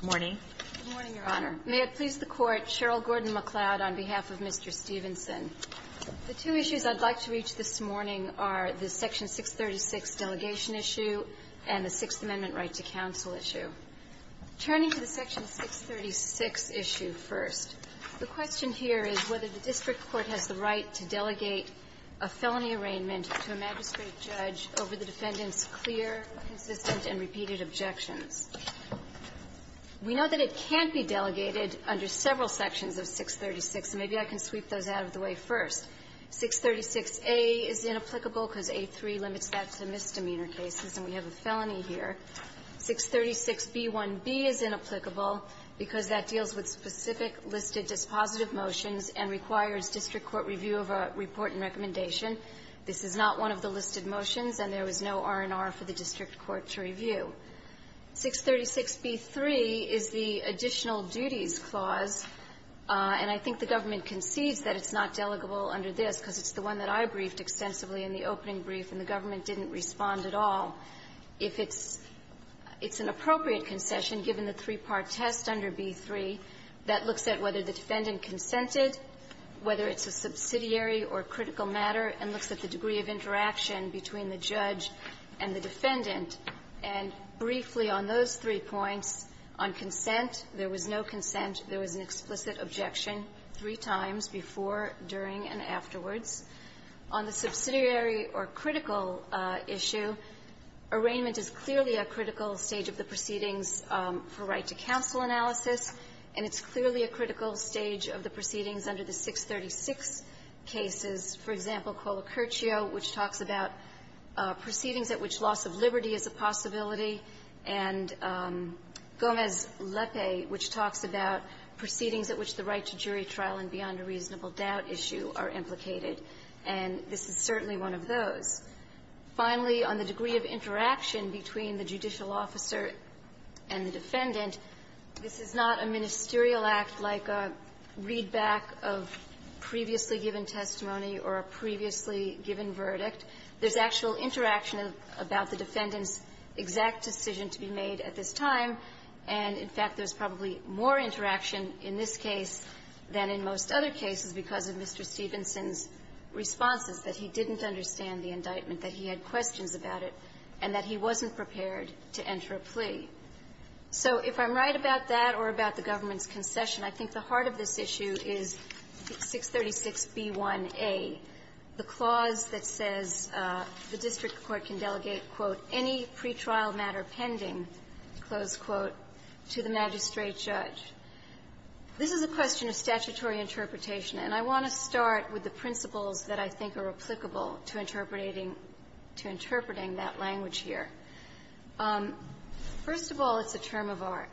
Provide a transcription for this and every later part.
Good morning. Good morning, Your Honor. May it please the Court, Cheryl Gordon-McLeod on behalf of Mr. Stephenson. The two issues I'd like to reach this morning are the Section 636 delegation issue and the Sixth Amendment right to counsel issue. Turning to the Section 636 issue first, the question here is whether the district court has the right to delegate a felony arraignment to a magistrate judge over the defendant's clear, consistent, and repeated objections. We know that it can't be delegated under several sections of 636, so maybe I can sweep those out of the way first. 636A is inapplicable because A3 limits that to misdemeanor cases and we have a felony here. 636B1B is inapplicable because that deals with specific listed dispositive motions and requires district court review of a report and recommendation. This is not one of the listed motions and there was no R&R for the district court to review. 636B3 is the additional duties clause, and I think the government concedes that it's not delegable under this because it's the one that I briefed extensively in the opening brief and the government didn't respond at all. If it's an appropriate concession, given the three-part test under B3, that looks at whether the defendant consented, whether it's a subsidiary or critical matter, and looks at the degree of interaction between the judge and the defendant. And briefly on those three points, on consent, there was no consent. There was an explicit objection three times, before, during, and afterwards. On the subsidiary or critical issue, arraignment is clearly a critical stage of the proceedings under the 636 cases. For example, Colacurcio, which talks about proceedings at which loss of liberty is a possibility, and Gomez-Lepe, which talks about proceedings at which the right to jury trial and beyond a reasonable doubt issue are implicated. And this is certainly one of those. Finally, on the degree of interaction between the judicial officer and the defendant, this is not a ministerial act like a readback of previously given testimony or a previously given verdict. There's actual interaction about the defendant's exact decision to be made at this time, and, in fact, there's probably more interaction in this case than in most other cases because of Mr. Stevenson's responses, that he didn't understand the indictment, that he had questions about it, and that he wasn't prepared to enter a plea. So if I'm right about that or about the government's concession, I think the heart of this issue is 636b1a, the clause that says the district court can delegate, quote, any pretrial matter pending, close quote, to the magistrate judge. This is a question of statutory interpretation, and I want to start with the principles that I think are applicable to interpreting that language here. First of all, it's a term of art.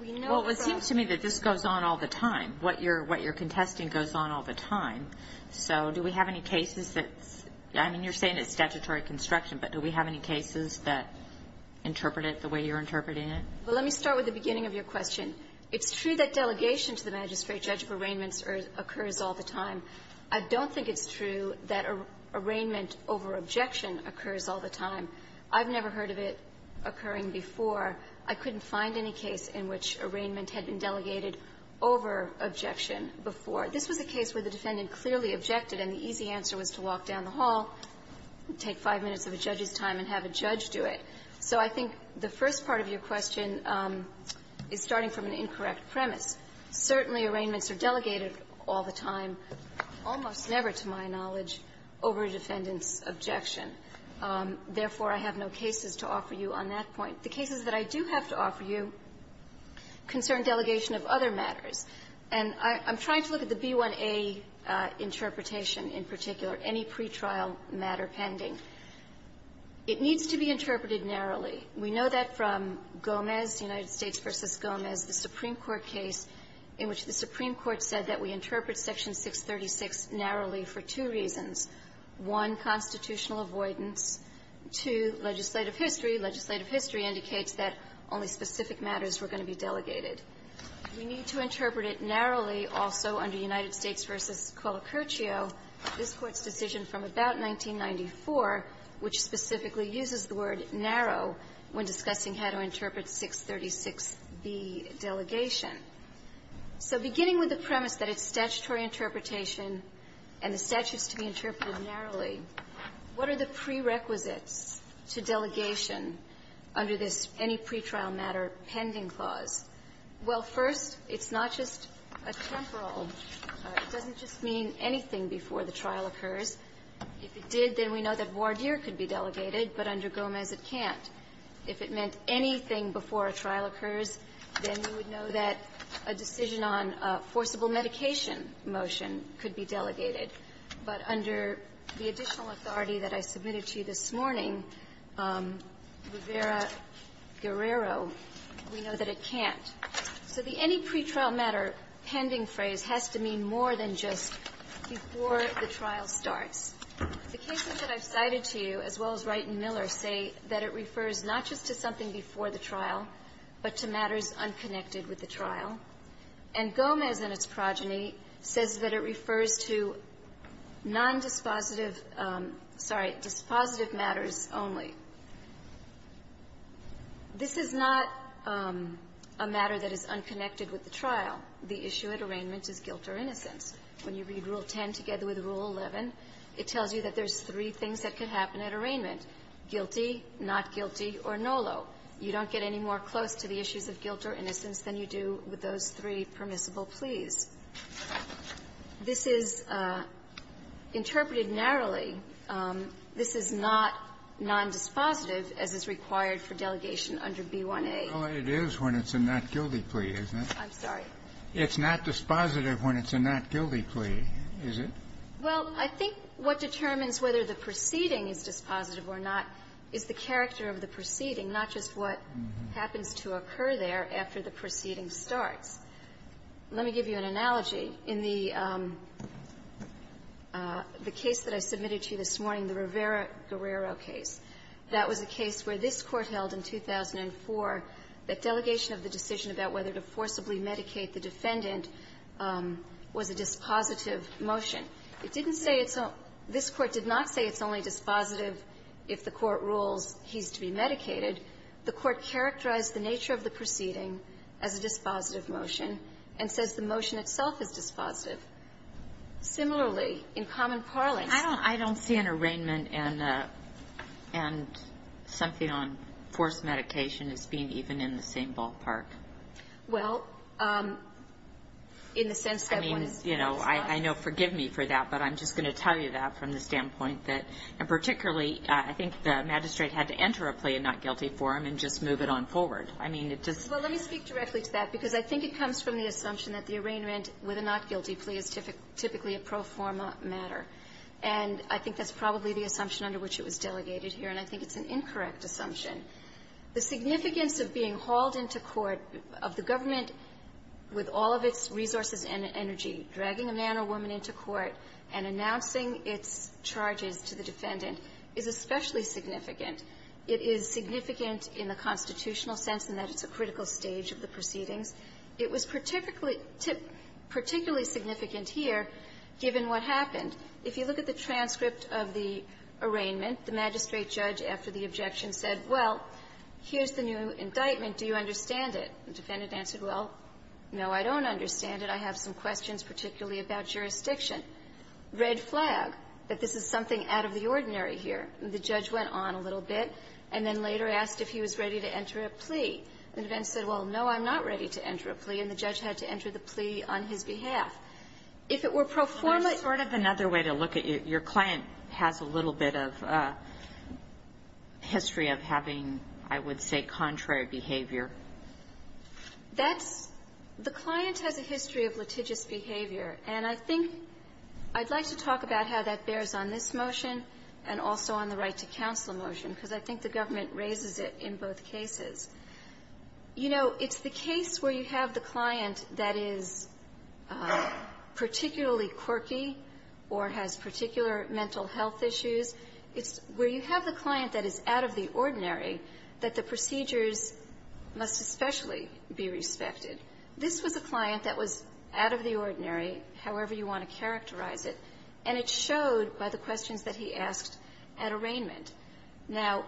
We know from the ---- Kagan. Well, it seems to me that this goes on all the time. What you're contesting goes on all the time. So do we have any cases that's ---- I mean, you're saying it's statutory construction, but do we have any cases that interpret it the way you're interpreting it? Well, let me start with the beginning of your question. It's true that delegation to the magistrate judge of arraignments occurs all the time. I don't think it's true that arraignment over objection occurs all the time. I've never heard of it occurring before. I couldn't find any case in which arraignment had been delegated over objection before. This was a case where the defendant clearly objected, and the easy answer was to walk down the hall, take five minutes of a judge's time, and have a judge do it. So I think the first part of your question is starting from an incorrect premise. Certainly, arraignments are delegated all the time, almost never, to my knowledge, over a defendant's objection. Therefore, I have no cases to offer you on that point. The cases that I do have to offer you concern delegation of other matters. And I'm trying to look at the B-1A interpretation in particular, any pretrial matter pending. It needs to be interpreted narrowly. We know that from Gomez, United States v. Gomez, the Supreme Court case in which the Supreme Court said that we interpret Section 636 narrowly for two reasons. One, constitutional avoidance. Two, legislative history. Legislative history indicates that only specific matters were going to be delegated. We need to interpret it narrowly also under United States v. Colacurcio, this Court's decision from about 1994, which specifically uses the word narrow when discussing how to interpret 636B, delegation. So beginning with the premise that it's statutory interpretation and the statutes to be interpreted narrowly, what are the prerequisites to delegation under this any pretrial matter pending clause? Well, first, it's not just a temporal. It doesn't just mean anything before the trial occurs. If it did, then we know that voir dire could be delegated, but under Gomez it can't. If it meant anything before a trial occurs, then we would know that a decision on forcible medication motion could be delegated. But under the additional authority that I submitted to you this morning, Rivera-Guerrero, we know that it can't. So the any pretrial matter pending phrase has to mean more than just before the trial starts. The cases that I've cited to you, as well as Wright and Miller, say that it refers not just to something before the trial, but to matters unconnected with the trial. And Gomez and its progeny says that it refers to nondispositive – sorry, dispositive matters only. This is not a matter that is unconnected with the trial. The issue at arraignment is guilt or innocence. When you read Rule 11, it tells you that there's three things that can happen at arraignment, guilty, not guilty, or nolo. You don't get any more close to the issues of guilt or innocence than you do with those three permissible pleas. This is interpreted narrowly. This is not nondispositive, as is required for delegation under B1A. It is when it's a not-guilty plea, isn't it? I'm sorry. It's not dispositive when it's a not-guilty plea, is it? Well, I think what determines whether the proceeding is dispositive or not is the character of the proceeding, not just what happens to occur there after the proceeding starts. Let me give you an analogy. In the case that I submitted to you this morning, the Rivera-Guerrero case, that was a case where this Court held in 2004 that delegation of the decision about whether to forcibly medicate the defendant was a dispositive motion. It didn't say it's a – this Court did not say it's only dispositive if the Court rules he's to be medicated. The Court characterized the nature of the proceeding as a dispositive motion and says the motion itself is dispositive. Similarly, in common parlance… I don't see an arraignment and something on forced medication as being even in the same ballpark. Well, in the sense that one is… I mean, you know, I know. Forgive me for that. But I'm just going to tell you that from the standpoint that, and particularly I think the magistrate had to enter a plea of not-guilty for him and just move it on forward. I mean, it just… Well, let me speak directly to that, because I think it comes from the assumption that the arraignment with a not-guilty plea is typically a pro forma matter. And I think that's probably the assumption under which it was delegated here. And I think it's an incorrect assumption. The significance of being hauled into court, of the government with all of its resources and energy dragging a man or woman into court and announcing its charges to the defendant, is especially significant. It is significant in the constitutional sense in that it's a critical stage of the proceedings. It was particularly significant here, given what happened. If you look at the transcript of the arraignment, the magistrate judge, after the objection, said, well, here's the new indictment. Do you understand it? The defendant answered, well, no, I don't understand it. I have some questions particularly about jurisdiction. Red flag, that this is something out of the ordinary here. The judge went on a little bit and then later asked if he was ready to enter a plea. The defendant said, well, no, I'm not ready to enter a plea. And the judge had to enter the plea on his behalf. If it were pro forma… Your client has a little bit of a history of having, I would say, contrary behavior. That's… the client has a history of litigious behavior. And I think I'd like to talk about how that bears on this motion and also on the right-to-counsel motion, because I think the government raises it in both cases. You know, it's the case where you have the client that is particularly quirky or has particular mental health issues. It's where you have the client that is out of the ordinary, that the procedures must especially be respected. This was a client that was out of the ordinary, however you want to characterize it, and it showed by the questions that he asked at arraignment. Now,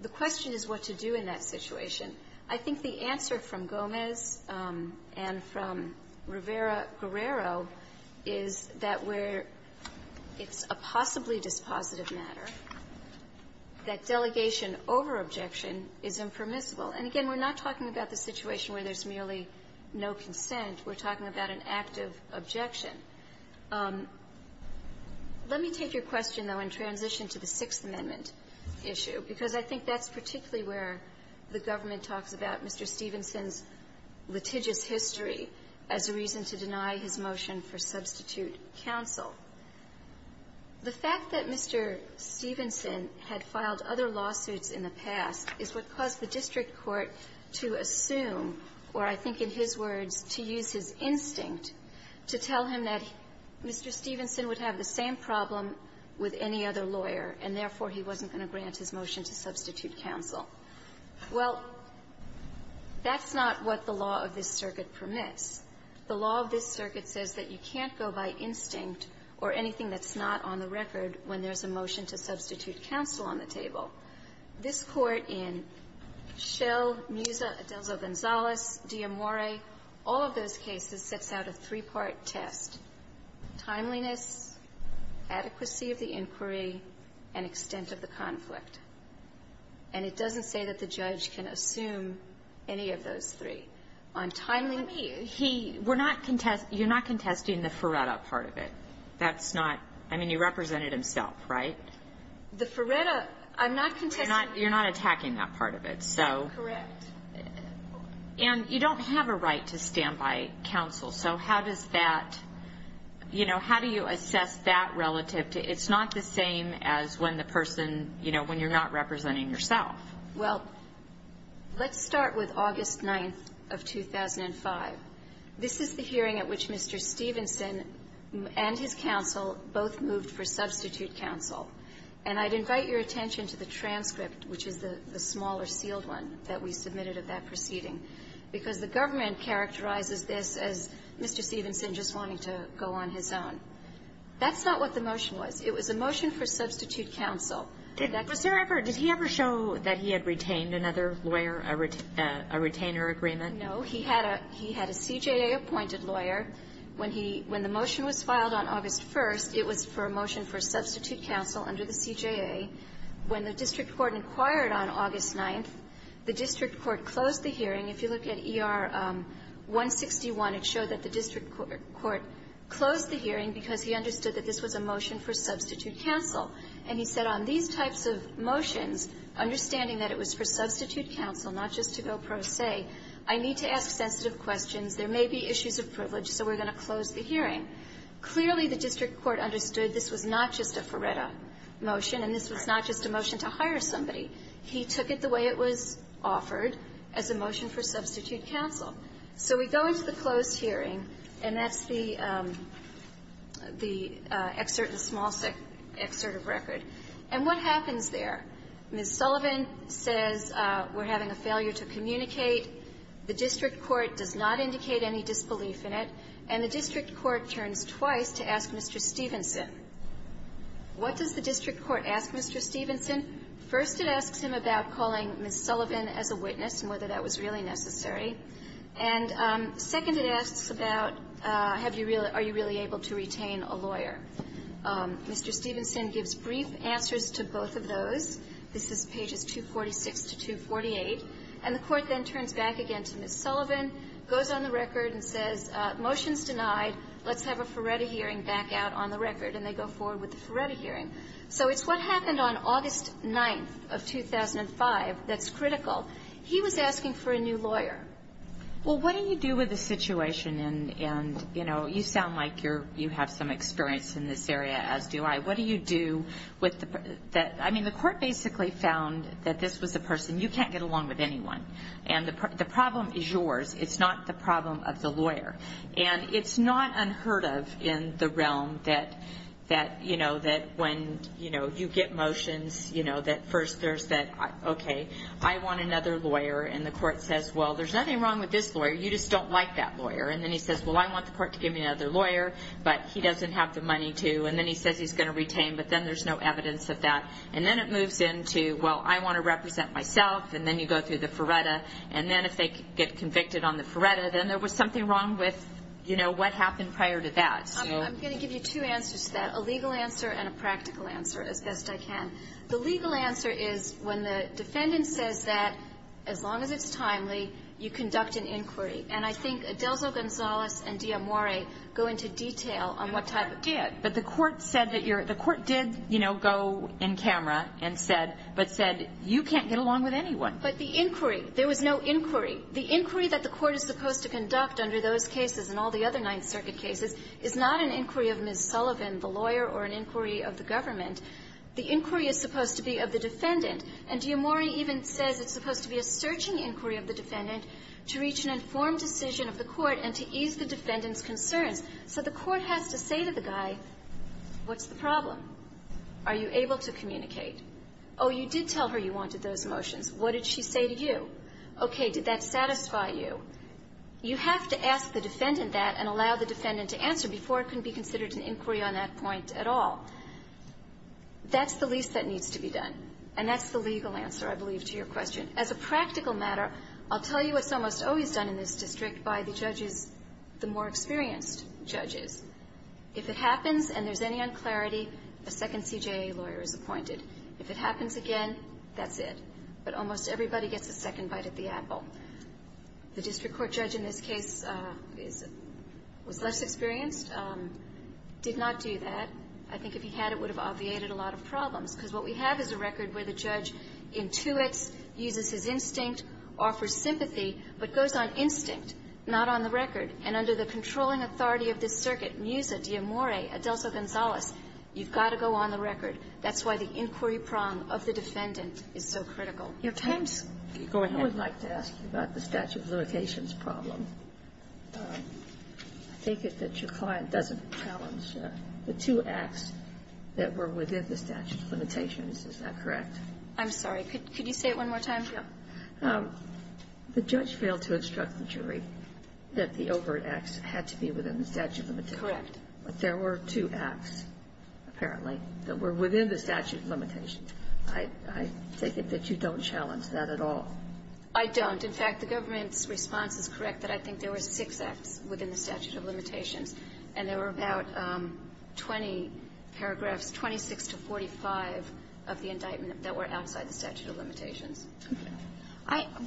the question is what to do in that situation. I think the answer from Gomez and from Rivera-Guerrero is that where it's a possibly dispositive matter, that delegation over-objection is impermissible. And again, we're not talking about the situation where there's merely no consent. We're talking about an active objection. Let me take your question, though, and transition to the Sixth Amendment issue, because I think that's particularly where the government talks about Mr. Stevenson's litigious history as a reason to deny his motion for substitute counsel. The fact that Mr. Stevenson had filed other lawsuits in the past is what caused the district court to assume, or I think in his words, to use his instinct to tell him that Mr. Stevenson would have the same problem with any other lawyer, and therefore, he wasn't going to grant his motion to substitute counsel. Well, that's not what the law of this circuit permits. The law of this circuit says that you can't go by instinct or anything that's not on the record when there's a motion to substitute counsel on the table. This Court in Schell, Muzo, Adelzo-Gonzalez, Di Amore, all of those cases sets out a three-part test, timeliness, adequacy of the inquiry, and extent of the conflict. And it doesn't say that the judge can assume any of those three. On timeliness... Let me... He... We're not contesting... You're not contesting the FRERETA part of it. That's not... I mean, you represented himself, right? The FRERETA... I'm not contesting... You're not attacking that part of it, so... Correct. And you don't have a right to stand by counsel, so how does that... You know, how do you assess that relative to... It's not the same as when the person, you know, when you're not representing yourself. Well, let's start with August 9th of 2005. This is the hearing at which Mr. Stevenson and his counsel both moved for substitute counsel. And I'd invite your attention to the transcript, which is the smaller sealed one that we submitted of that proceeding, because the government characterizes this as Mr. Stevenson just wanting to go on his own. That's not what the motion was. It was a motion for substitute counsel. Did that... Was there ever... Did he ever show that he had retained another lawyer, a retainer agreement? No. He had a... He had a CJA-appointed lawyer. When he... When the motion was filed on August 1st, it was for a motion for substitute counsel under the CJA. When the district court inquired on August 9th, the district court closed the hearing. If you look at ER-161, it showed that the district court closed the hearing because he understood that this was a motion for substitute counsel. And he said, on these types of motions, understanding that it was for substitute counsel, not just to go pro se, I need to ask sensitive questions. There may be issues of privilege, so we're going to close the hearing. Clearly, the district court understood this was not just a Ferretta motion, and this was not just a motion to hire somebody. He took it the way it was offered as a motion for substitute counsel. So we go into the closed hearing, and that's the excerpt, the small excerpt of record. And what happens there? Ms. Sullivan says we're having a failure to communicate. The district court does not indicate any disbelief in it. And the district court turns twice to ask Mr. Stevenson. What does the district court ask Mr. Stevenson? First, it asks him about calling Ms. Sullivan as a witness and whether that was really necessary. And second, it asks about have you really are you really able to retain a lawyer. Mr. Stevenson gives brief answers to both of those. This is pages 246 to 248. And the Court then turns back again to Ms. Sullivan, goes on the record and says, motion's denied. Let's have a Ferretta hearing back out on the record. And they go forward with the Ferretta hearing. So it's what happened on August 9th of 2005 that's critical. He was asking for a new lawyer. Well, what do you do with the situation? And, you know, you sound like you're you have some experience in this area, as do I. What do you do with the that I mean, the court basically found that this was a person you can't get along with anyone. And the problem is yours. It's not the problem of the lawyer. And it's not unheard of in the realm that, you know, that when, you know, you get motions, you know, that first there's that, OK, I want another lawyer. And the court says, well, there's nothing wrong with this lawyer. You just don't like that lawyer. And then he says, well, I want the court to give me another lawyer, but he doesn't have the money to. And then he says he's going to retain. But then there's no evidence of that. And then it moves into, well, I want to represent myself. And then you go through the Ferretta. And then if they get convicted on the Ferretta, then there was something wrong with, you know, what happened prior to that. So I'm going to give you two answers to that, a legal answer and a practical answer, as best I can. The legal answer is, when the defendant says that, as long as it's timely, you conduct an inquiry. And I think Adelzo-Gonzalez and D'Amore go into detail on what type of debt. But the court said that you're – the court did, you know, go in camera and said – but said, you can't get along with anyone. But the inquiry – there was no inquiry. The inquiry that the court is supposed to conduct under those cases and all the other Ninth Circuit cases is not an inquiry of Ms. Sullivan, the lawyer, or an inquiry of the government. The inquiry is supposed to be of the defendant. And D'Amore even says it's supposed to be a searching inquiry of the defendant to reach an informed decision of the court and to ease the defendant's concerns. So the court has to say to the guy, what's the problem? Are you able to communicate? Oh, you did tell her you wanted those motions. What did she say to you? Okay. Did that satisfy you? You have to ask the defendant that and allow the defendant to answer before it can be considered an inquiry on that point at all. That's the least that needs to be done. And that's the legal answer, I believe, to your question. As a practical matter, I'll tell you what's almost always done in this district by the judges – the more experienced judges. If it happens and there's any unclarity, a second CJA lawyer is appointed. If it happens again, that's it. But almost everybody gets a second bite at the apple. The district court judge in this case is – was less experienced, did not do that. I think if he had, it would have obviated a lot of problems, because what we have is a record where the judge intuits, uses his instinct, offers sympathy, but goes on instinct, not on the record. And under the controlling authority of this circuit, Musa, D'Amore, Adelso-Gonzalez, you've got to go on the record. That's why the inquiry prong of the defendant is so critical. Your time's going ahead. I would like to ask you about the statute of limitations problem. I take it that your client doesn't challenge the two acts that were within the statute of limitations. Is that correct? I'm sorry. Could you say it one more time? Yeah. The judge failed to instruct the jury that the overt acts had to be within the statute of limitations. Correct. But there were two acts, apparently, that were within the statute of limitations. I take it that you don't challenge that at all. I don't. In fact, the government's response is correct, that I think there were six acts within the statute of limitations, and there were about 20 paragraphs, 26 to 45 of the indictment that were outside the statute of limitations.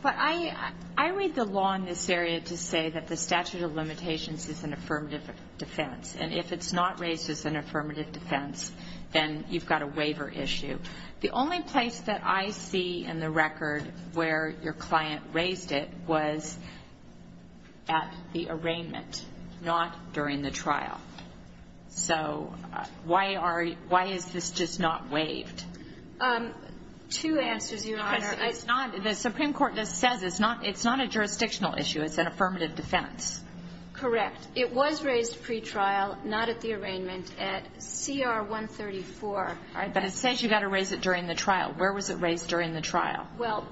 But I read the law in this area to say that the statute of limitations is an affirmative defense. And if it's not raised as an affirmative defense, then you've got a waiver issue. The only place that I see in the record where your client raised it was at the arraignment, not during the trial. So why is this just not waived? Two answers, Your Honor. It's not. The Supreme Court just says it's not a jurisdictional issue. It's an affirmative defense. Correct. It was raised pretrial, not at the arraignment, at CR 134. All right. But it says you've got to raise it during the trial. Where was it raised during the trial? Well,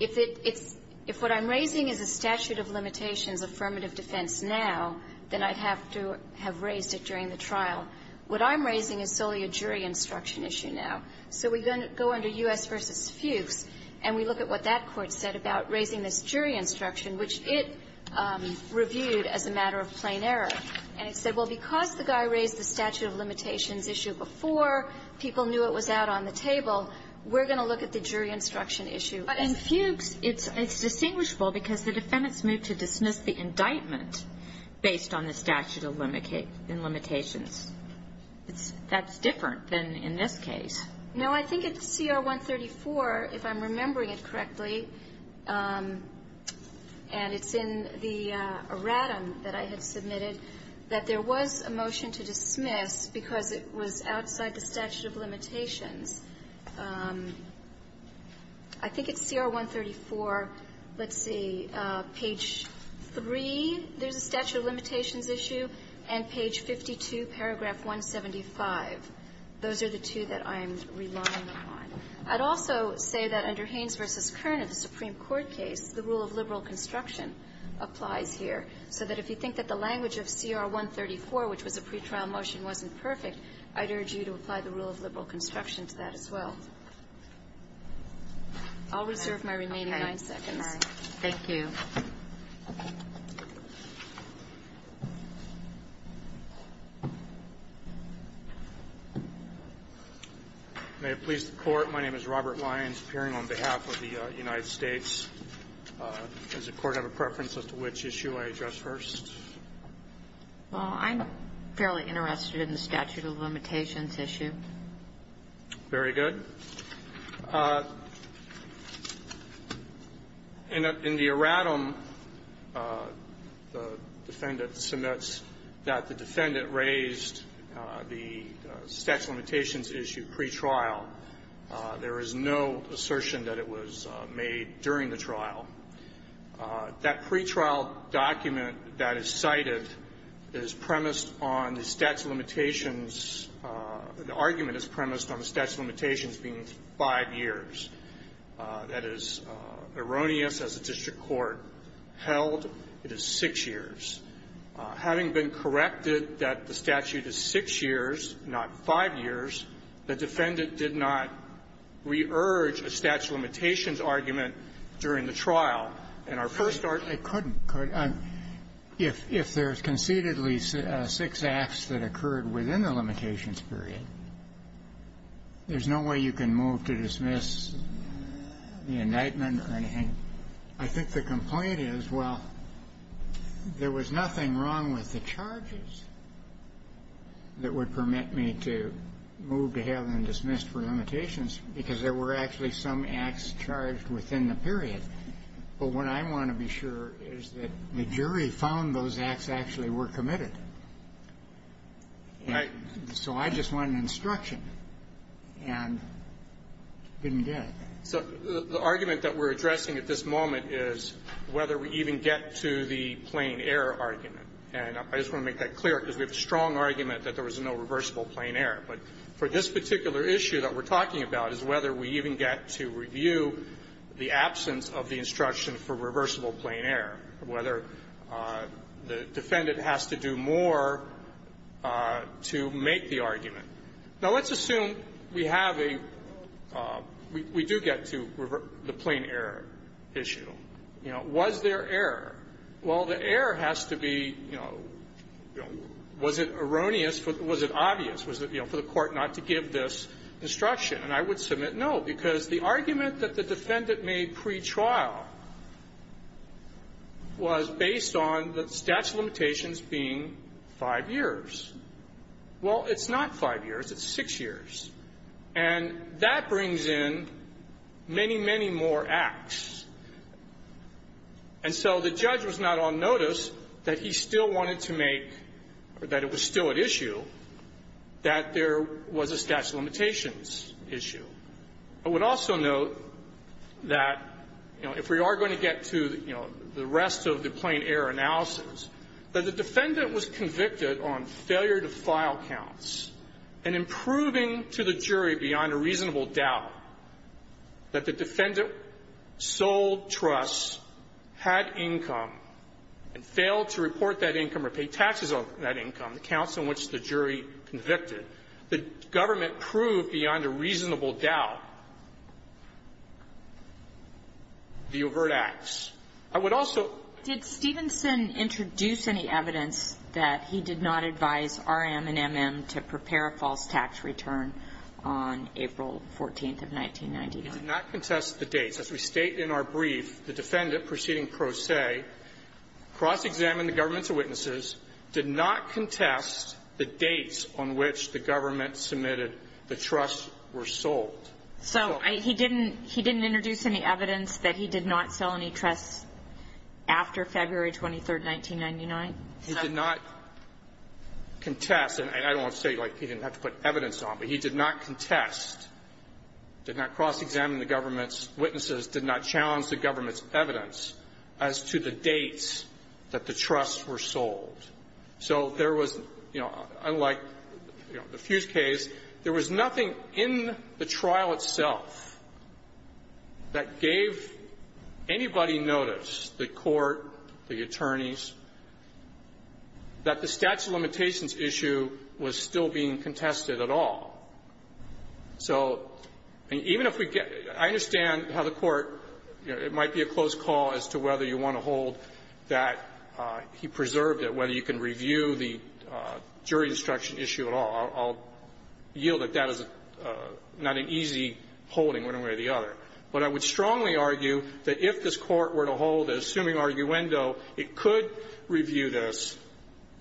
if it's — if what I'm raising is a statute of limitations affirmative defense now, then I'd have to have raised it during the trial. What I'm raising is solely a jury instruction issue now. So we go under U.S. v. Fuchs, and we look at what that Court said about raising this jury instruction, which it reviewed as a matter of plain error. And it said, well, because the guy raised the statute of limitations issue before, people knew it was out on the table. We're going to look at the jury instruction issue. But in Fuchs, it's distinguishable because the defendants moved to dismiss the indictment based on the statute of limitations. That's different than in this case. No. I think at CR 134, if I'm remembering it correctly, and it's in the erratum that I had submitted, that there was a motion to dismiss because it was outside the statute of limitations. I think it's CR 134, let's see, page 3, there's a statute of limitations issue, and page 52, paragraph 175. Those are the two that I'm relying on. I'd also say that under Haynes v. Kern in the Supreme Court case, the rule of liberal construction applies here. So that if you think that the language of CR 134, which was a pretrial motion, wasn't perfect, I'd urge you to apply the rule of liberal construction to that as well. I'll reserve my remaining nine seconds. Thank you. May it please the Court. My name is Robert Lyons, appearing on behalf of the United States. Does the Court have a preference as to which issue I address first? Well, I'm fairly interested in the statute of limitations issue. Very good. In the erratum, the defendant submits that the defendant raised the statute of limitations issue pretrial. There is no assertion that it was made during the trial. That pretrial document that is cited is premised on the statute of limitations the argument is premised on the statute of limitations being five years. That is erroneous as a district court held. It is six years. Having been corrected that the statute is six years, not five years, the defendant did not re-urge a statute of limitations argument during the trial. And our first argument was that the defendant did not re-urge a statute of limitations argument during the trial. It couldn't. If there's concededly six acts that occurred within the limitations period, there's no way you can move to dismiss the indictment or anything. I think the complaint is, well, there was nothing wrong with the charges that would permit me to move to have them dismissed for limitations, because there were actually some acts charged within the period. But what I want to be sure is that the jury found those acts actually were committed. And so I just want an instruction. And it didn't get it. So the argument that we're addressing at this moment is whether we even get to the plain-error argument. And I just want to make that clear, because we have a strong argument that there was no reversible plain-error. But for this particular issue that we're talking about is whether we even get to review the absence of the instruction for reversible plain-error, whether the defendant has to do more to make the argument. Now, let's assume we have a – we do get to the plain-error issue. You know, was there error? Well, the error has to be, you know, was it erroneous? Was it obvious? Was it, you know, for the Court not to give this instruction? And I would submit no, because the argument that the defendant made pretrial was based on the statute of limitations being five years. Well, it's not five years. It's six years. And that brings in many, many more acts. And so the judge was not on notice that he still wanted to make – or that it was still at issue that there was a statute of limitations issue. I would also note that, you know, if we are going to get to, you know, the rest of the plain-error analysis, that the defendant was convicted on failure to file counts and improving to the jury beyond a reasonable doubt that the defendant sold trusts, had income, and failed to report that income or pay taxes on that income, the counts on which the jury convicted, the government proved beyond a reasonable doubt the overt acts. I would also – Did Stevenson introduce any evidence that he did not advise R.M. and M.M. to proceed to prepare a false tax return on April 14th of 1999? He did not contest the dates. As we state in our brief, the defendant proceeding pro se cross-examined the government's witnesses, did not contest the dates on which the government submitted the trusts were sold. So I – he didn't – he didn't introduce any evidence that he did not sell any trusts after February 23rd, 1999? He did not contest. And I don't want to say, like, he didn't have to put evidence on, but he did not contest, did not cross-examine the government's witnesses, did not challenge the government's evidence as to the dates that the trusts were sold. So there was, you know, unlike the Fuse case, there was nothing in the trial itself that gave anybody notice, the Court, the attorneys, that the statute of limitations issue was still being contested at all. So even if we get – I understand how the Court, you know, it might be a close call as to whether you want to hold that he preserved it, whether you can review the jury instruction issue at all. I'll yield that that is not an easy holding one way or the other. But I would strongly argue that if this Court were to hold an assuming arguendo, it could review this,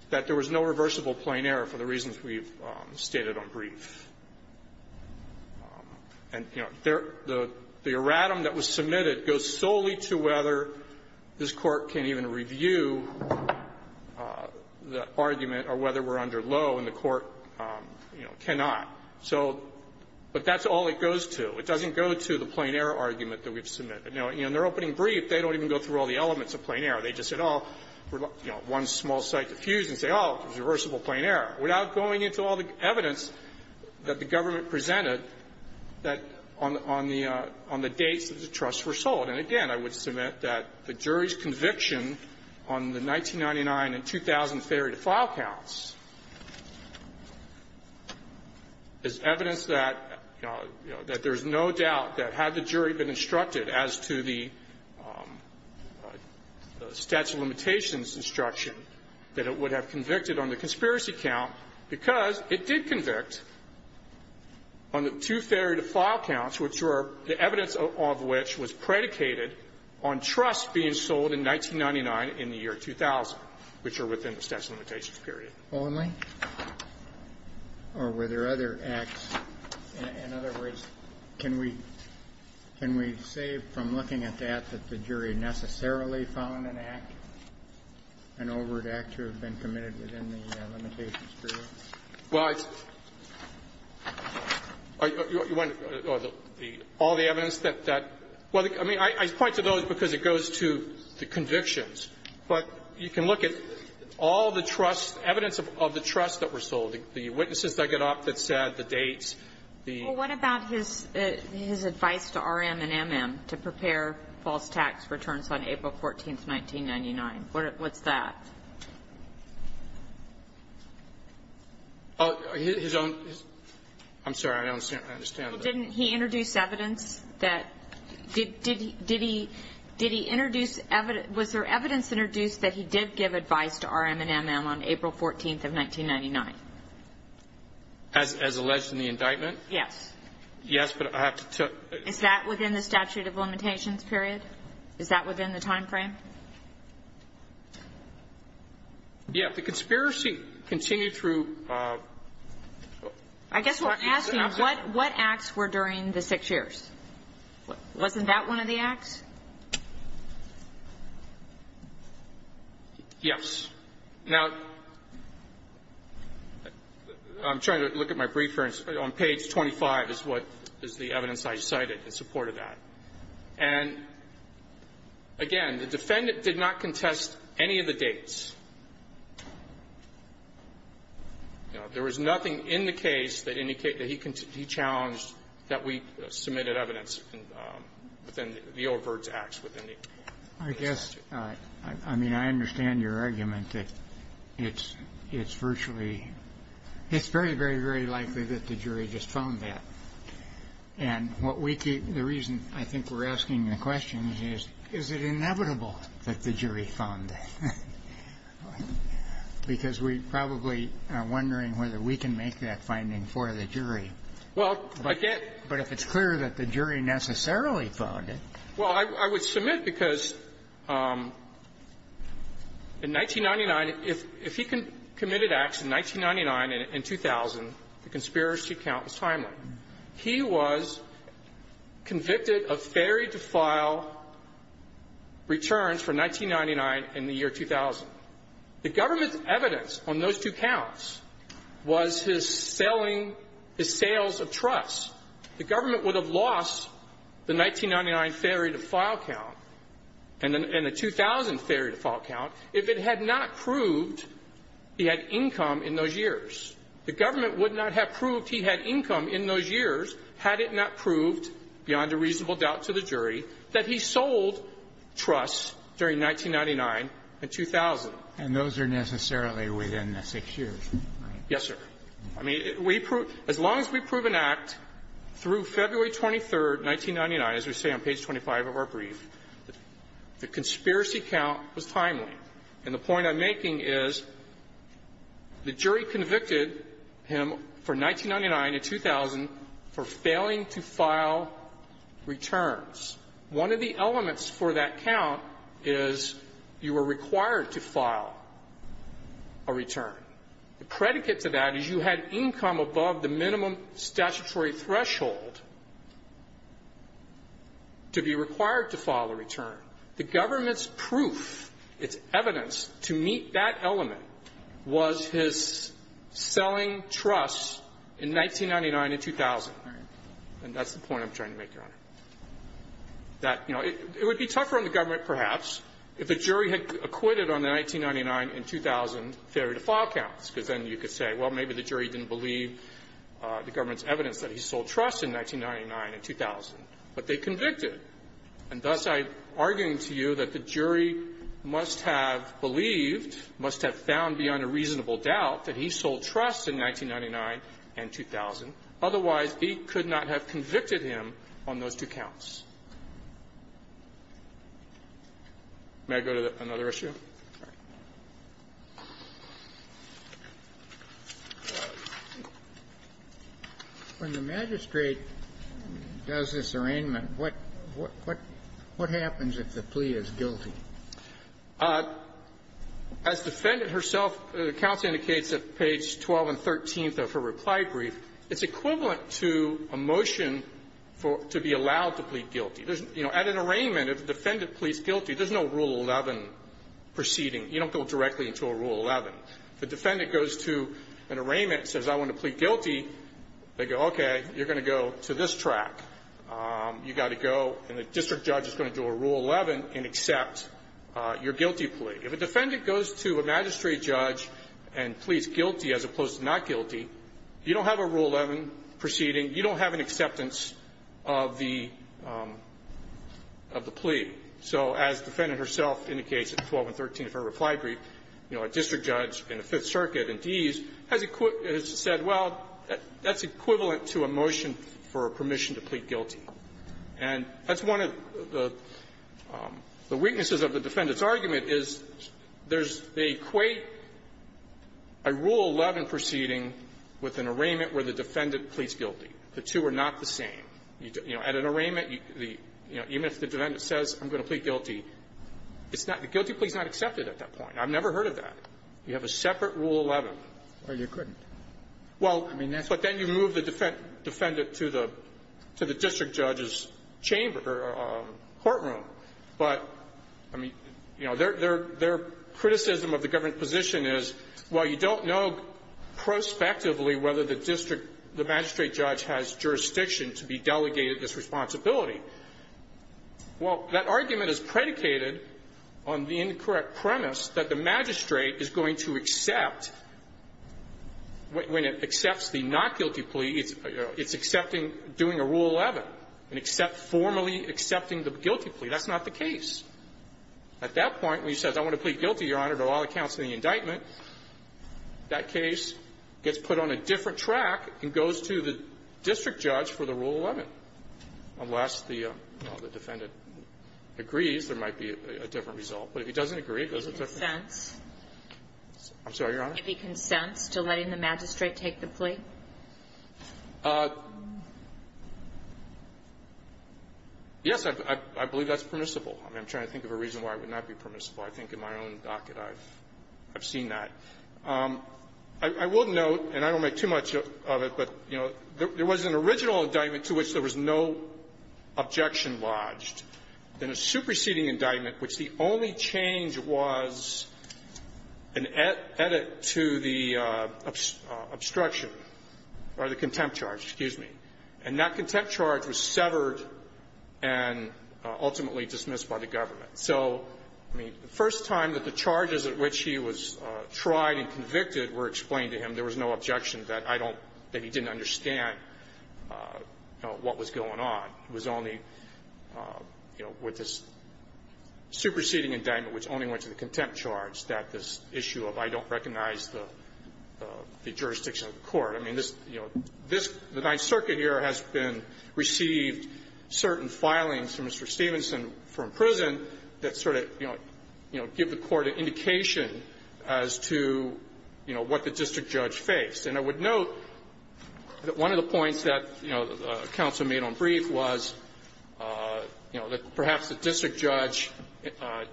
that there was no reversible plain error for the reasons we've stated on brief. And, you know, the erratum that was submitted goes solely to whether this Court can even review the argument or whether we're under low, and the Court, you know, cannot. So – but that's all it goes to. It doesn't go to the plain error argument that we've submitted. Now, in their opening brief, they don't even go through all the elements of plain error. They just said, oh, you know, one small site to fuse, and say, oh, it was reversible plain error, without going into all the evidence that the government presented that on the – on the dates that the trusts were sold. And, again, I would submit that the jury's conviction on the 1999 and 2003 to file counts is evidence that, you know, that there's no doubt that had the jury been instructed as to the statute of limitations instruction, that it would have convicted on the conspiracy count, because it did convict on the two theory to file counts, which were the evidence of which was predicated on trusts being sold in 1999 in the year 2000, which are within the statute of limitations period. Only? Or were there other acts? In other words, can we – can we say from looking at that that the jury necessarily found an act, an overt act, to have been committed within the limitations period? Well, it's – you want to – all the evidence that – well, I mean, I point to those because it goes to the convictions. But you can look at all the trust – evidence of the trusts that were sold, the witnesses that got up that said the dates, the – Well, what about his – his advice to RM and MM to prepare false tax returns on April 14th, 1999? What – what's that? His own – his – I'm sorry. I don't understand. Well, didn't he introduce evidence that – did he – did he – did he introduce evidence – was there evidence introduced that he did give advice to RM and MM on April 14th of 1999? As – as alleged in the indictment? Yes. Yes, but I have to tell – Is that within the statute of limitations period? Is that within the time frame? Yes. The conspiracy continued through – I guess what I'm asking, what – what acts were during the six years? Wasn't that one of the acts? Yes. Now, I'm trying to look at my brief here. On page 25 is what – is the evidence I cited in support of that. And, again, the defendant did not contest any of the dates. There was nothing in the case that indicated that he challenged that we submitted evidence within the Old Byrd's Acts, within the – I guess – I mean, I understand your argument that it's – it's virtually – it's very, very, very likely that the jury just found that. And what we – the reason I think we're asking the question is, is it inevitable that the jury found that? Because we probably are wondering whether we can make that finding for the jury. Well, if I can't – But if it's clear that the jury necessarily found it. Well, I would submit because in 1999, if he committed acts in 1999 and 2000, the conspiracy count was timely. He was convicted of fairy defile returns for 1999 and the year 2000. The government's evidence on those two counts was his selling – his sales of trusts. The government would have lost the 1999 fairy defile count and the 2000 fairy defile count if it had not proved he had income in those years. The government would not have proved he had income in those years had it not proved, beyond a reasonable doubt to the jury, that he sold trusts during 1999 and 2000. And those are necessarily within the six years, right? Yes, sir. I mean, we prove – as long as we prove an act through February 23rd, 1999, as we say on page 25 of our brief, the conspiracy count was timely. And the point I'm making is the jury convicted him for 1999 and 2000 for failing to file returns. One of the elements for that count is you were required to file a return. The predicate to that is you had income above the minimum statutory threshold to be required to file a return. The government's proof, its evidence to meet that element was his selling trusts in 1999 and 2000. Right. And that's the point I'm trying to make, Your Honor, that, you know, it would be tougher on the government, perhaps, if a jury had acquitted on the 1999 and 2000 failure-to-file counts, because then you could say, well, maybe the jury didn't believe the government's evidence that he sold trusts in 1999 and 2000. But they convicted. And thus, I'm arguing to you that the jury must have believed, must have found beyond a reasonable doubt, that he sold trusts in 1999 and 2000. Otherwise, he could not have convicted him on those two counts. May I go to another issue? When the magistrate does this arraignment, what happens if the plea is guilty? As the defendant herself, the counsel indicates at page 12 and 13 of her reply brief, it's equivalent to a motion for to be allowed to plead guilty. There's, you know, at an arraignment, if the defendant pleads guilty, there's no Rule 11 proceeding. You don't go directly into a Rule 11. If a defendant goes to an arraignment and says, I want to plead guilty, they go, okay, you're going to go to this track. You got to go, and the district judge is going to do a Rule 11 and accept your guilty plea. If a defendant goes to a magistrate judge and pleads guilty as opposed to not guilty, you don't have a Rule 11 proceeding. You don't have an acceptance of the plea. So as the defendant herself indicates at 12 and 13 of her reply brief, you know, a district judge in the Fifth Circuit and Dees has said, well, that's equivalent to a motion for permission to plead guilty. And that's one of the weaknesses of the defendant's argument, is there's They equate a Rule 11 proceeding with an arraignment where the defendant pleads guilty. The two are not the same. You know, at an arraignment, you know, even if the defendant says, I'm going to plead guilty, it's not the guilty plea is not accepted at that point. I've never heard of that. You have a separate Rule 11. Well, you couldn't. Well, but then you move the defendant to the district judge's chamber or courtroom. But, I mean, you know, their criticism of the government position is, well, you don't know prospectively whether the district, the magistrate judge has jurisdiction to be delegated this responsibility. Well, that argument is predicated on the incorrect premise that the magistrate is going to accept when it accepts the not guilty plea, it's accepting doing a Rule 11, and formally accepting the guilty plea. That's not the case. At that point, when he says, I want to plead guilty, Your Honor, to all accounts in the indictment, that case gets put on a different track and goes to the district judge for the Rule 11, unless the defendant agrees there might be a different result. But if he doesn't agree, it goes to the district judge. I'm sorry, Your Honor? Would there be consents to letting the magistrate take the plea? Yes, I believe that's permissible. I mean, I'm trying to think of a reason why it would not be permissible. I think in my own docket, I've seen that. I will note, and I don't make too much of it, but, you know, there was an original indictment to which there was no objection lodged, and a superseding indictment which the only change was an edit to the obstruction or the contempt charge, excuse me, and that contempt charge was severed and ultimately dismissed by the government. So, I mean, the first time that the charges at which he was tried and convicted were explained to him, there was no objection that I don't that he didn't understand what was going on. It was only, you know, with this superseding indictment which only went to the contempt charge that this issue of I don't recognize the jurisdiction of the court. I mean, this, you know, this, the Ninth Circuit here has been, received certain filings from Mr. Stevenson from prison that sort of, you know, give the Court an indication as to, you know, what the district judge faced. And I would note that one of the points that, you know, counsel made on brief was, you know, that perhaps the district judge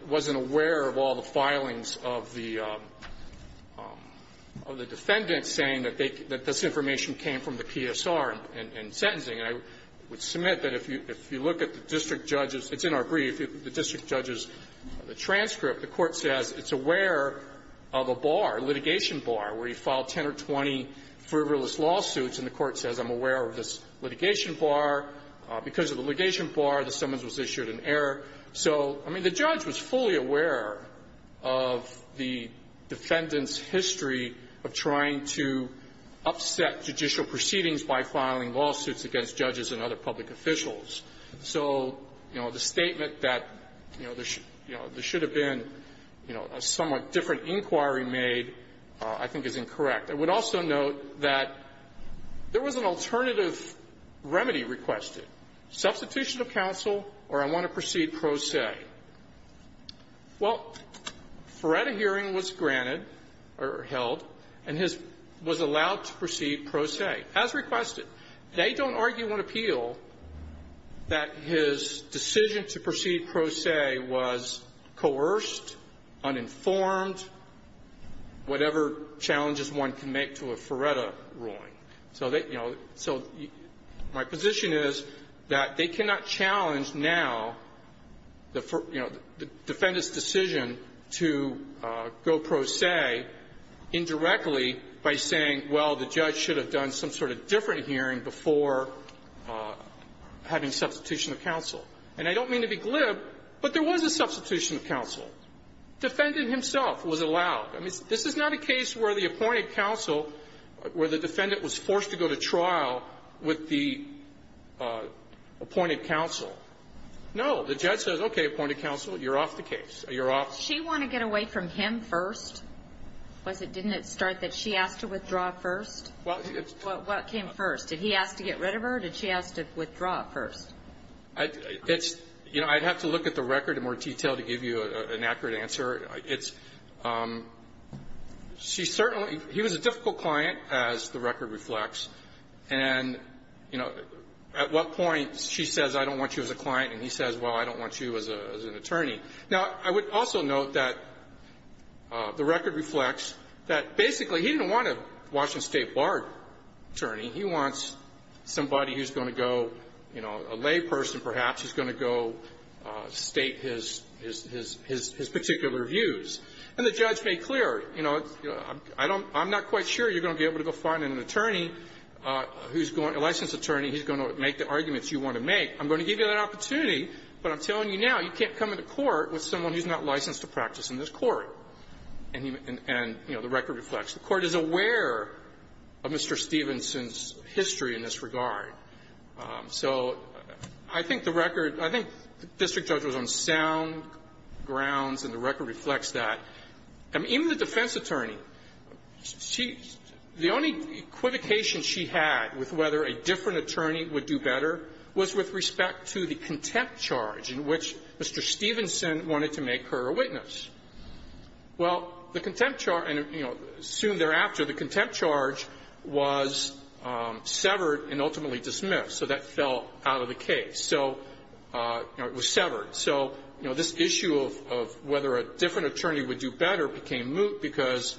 wasn't aware of all the filings of the defendant saying that they, that this information came from the PSR in sentencing. And I would submit that if you look at the district judge's, it's in our brief, the district judge's transcript, the Court says it's aware of a bar, litigation bar, where he filed 10 or 20 frivolous lawsuits, and the Court says, I'm aware of this litigation bar. Because of the litigation bar, the summons was issued in error. So, I mean, the judge was fully aware of the defendant's history of trying to upset judicial proceedings by filing lawsuits against judges and other public officials. So, you know, the statement that, you know, there should have been, you know, a somewhat different inquiry made, I think is incorrect. I would also note that there was an alternative remedy requested. Substitution of counsel, or I want to proceed pro se. Well, Ferretta hearing was granted or held, and his was allowed to proceed pro se, as requested. They don't argue on appeal that his decision to proceed pro se was coerced, uninformed, whatever challenges one can make to a Ferretta ruling. So they, you know, so my position is that they cannot challenge now the, you know, the defendant's decision to go pro se indirectly by saying, well, the judge should have done some sort of different hearing before having substitution of counsel. And I don't mean to be glib, but there was a substitution of counsel. Defendant himself was allowed. I mean, this is not a case where the appointed counsel, where the defendant was forced to go to trial with the appointed counsel. No. The judge says, okay, appointed counsel, you're off the case. You're off. She want to get away from him first? Was it didn't it start that she asked to withdraw first? Well, it's What came first? Did he ask to get rid of her? Did she ask to withdraw first? It's, you know, I'd have to look at the record in more detail to give you an accurate answer. It's, she certainly, he was a difficult client, as the record reflects. And, you know, at what point she says, I don't want you as a client, and he says, well, I don't want you as an attorney. Now, I would also note that the record attorney, he wants somebody who's going to go, you know, a lay person, perhaps, who's going to go state his particular views. And the judge made clear, you know, I don't, I'm not quite sure you're going to be able to go find an attorney who's going, a licensed attorney who's going to make the arguments you want to make. I'm going to give you that opportunity, but I'm telling you now, you can't come to court with someone who's not licensed to practice in this court. And, you know, the record reflects. The Court is aware of Mr. Stevenson's history in this regard. So I think the record, I think the district judge was on sound grounds, and the record reflects that. I mean, even the defense attorney, she, the only equivocation she had with whether a different attorney would do better was with respect to the Stevenson wanted to make her a witness. Well, the contempt charge, and, you know, soon thereafter, the contempt charge was severed and ultimately dismissed. So that fell out of the case. So, you know, it was severed. So, you know, this issue of, of whether a different attorney would do better became moot because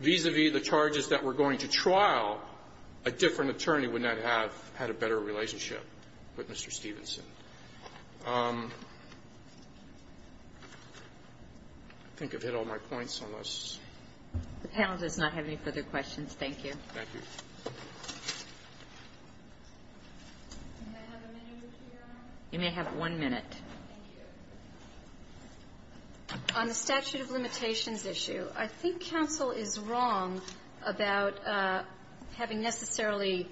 vis-a-vis the charges that were going to trial, a different attorney would not have had a better relationship with Mr. Stevenson. I think I've hit all my points on this. The panel does not have any further questions. Thank you. Thank you. You may have one minute. On the statute of limitations issue, I think counsel is wrong about having necessarily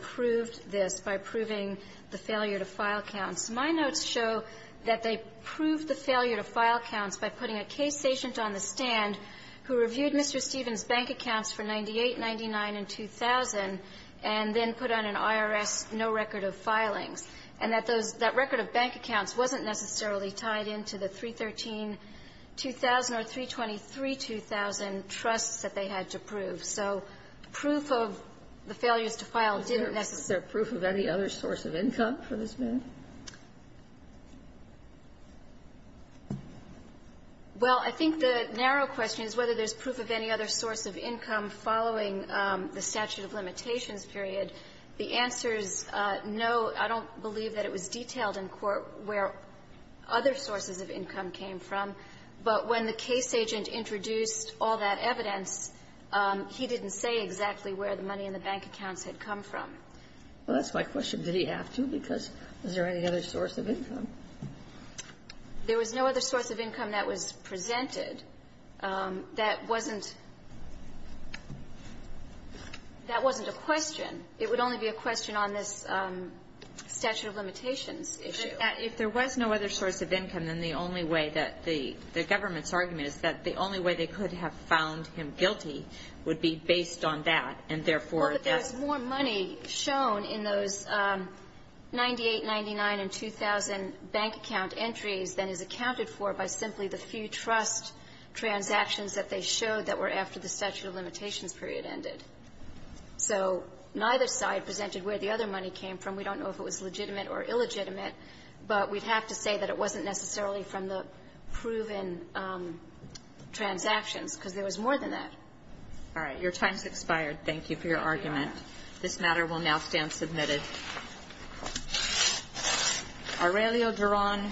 proved this by proving the failure to file counts. My notes show that they proved the failure to file counts by putting a case agent on the stand who reviewed Mr. Stevenson's bank accounts for 98, 99, and 2000, and then put on an IRS no record of filings, and that those that record of bank accounts wasn't necessarily tied into the 313-2000 or 323-2000 trusts that they had to prove. So proof of the failures to file didn't necessarily be true. Is there proof of any other source of income for this man? Well, I think the narrow question is whether there's proof of any other source of income following the statute of limitations period. The answer is no. I don't believe that it was detailed in court where other sources of income came from, but when the case agent introduced all that evidence, he didn't say exactly where the money in the bank accounts had come from. Well, that's my question. Did he have to, because was there any other source of income? There was no other source of income that was presented. That wasn't a question. It would only be a question on this statute of limitations issue. If there was no other source of income, then the only way that the government's argument is that the only way they could have found him guilty would be based on that, and therefore that's the only way. Well, but there's more money shown in those 98, 99, and 2000 bank account entries than is accounted for by simply the few trust transactions that they showed that were after the statute of limitations period ended. So neither side presented where the other money came from. We don't know if it was legitimate or illegitimate, but we'd have to say that it wasn't necessarily from the proven transactions, because there was more than that. All right. Your time has expired. Thank you for your argument. This matter will now stand submitted. Aurelio Duran.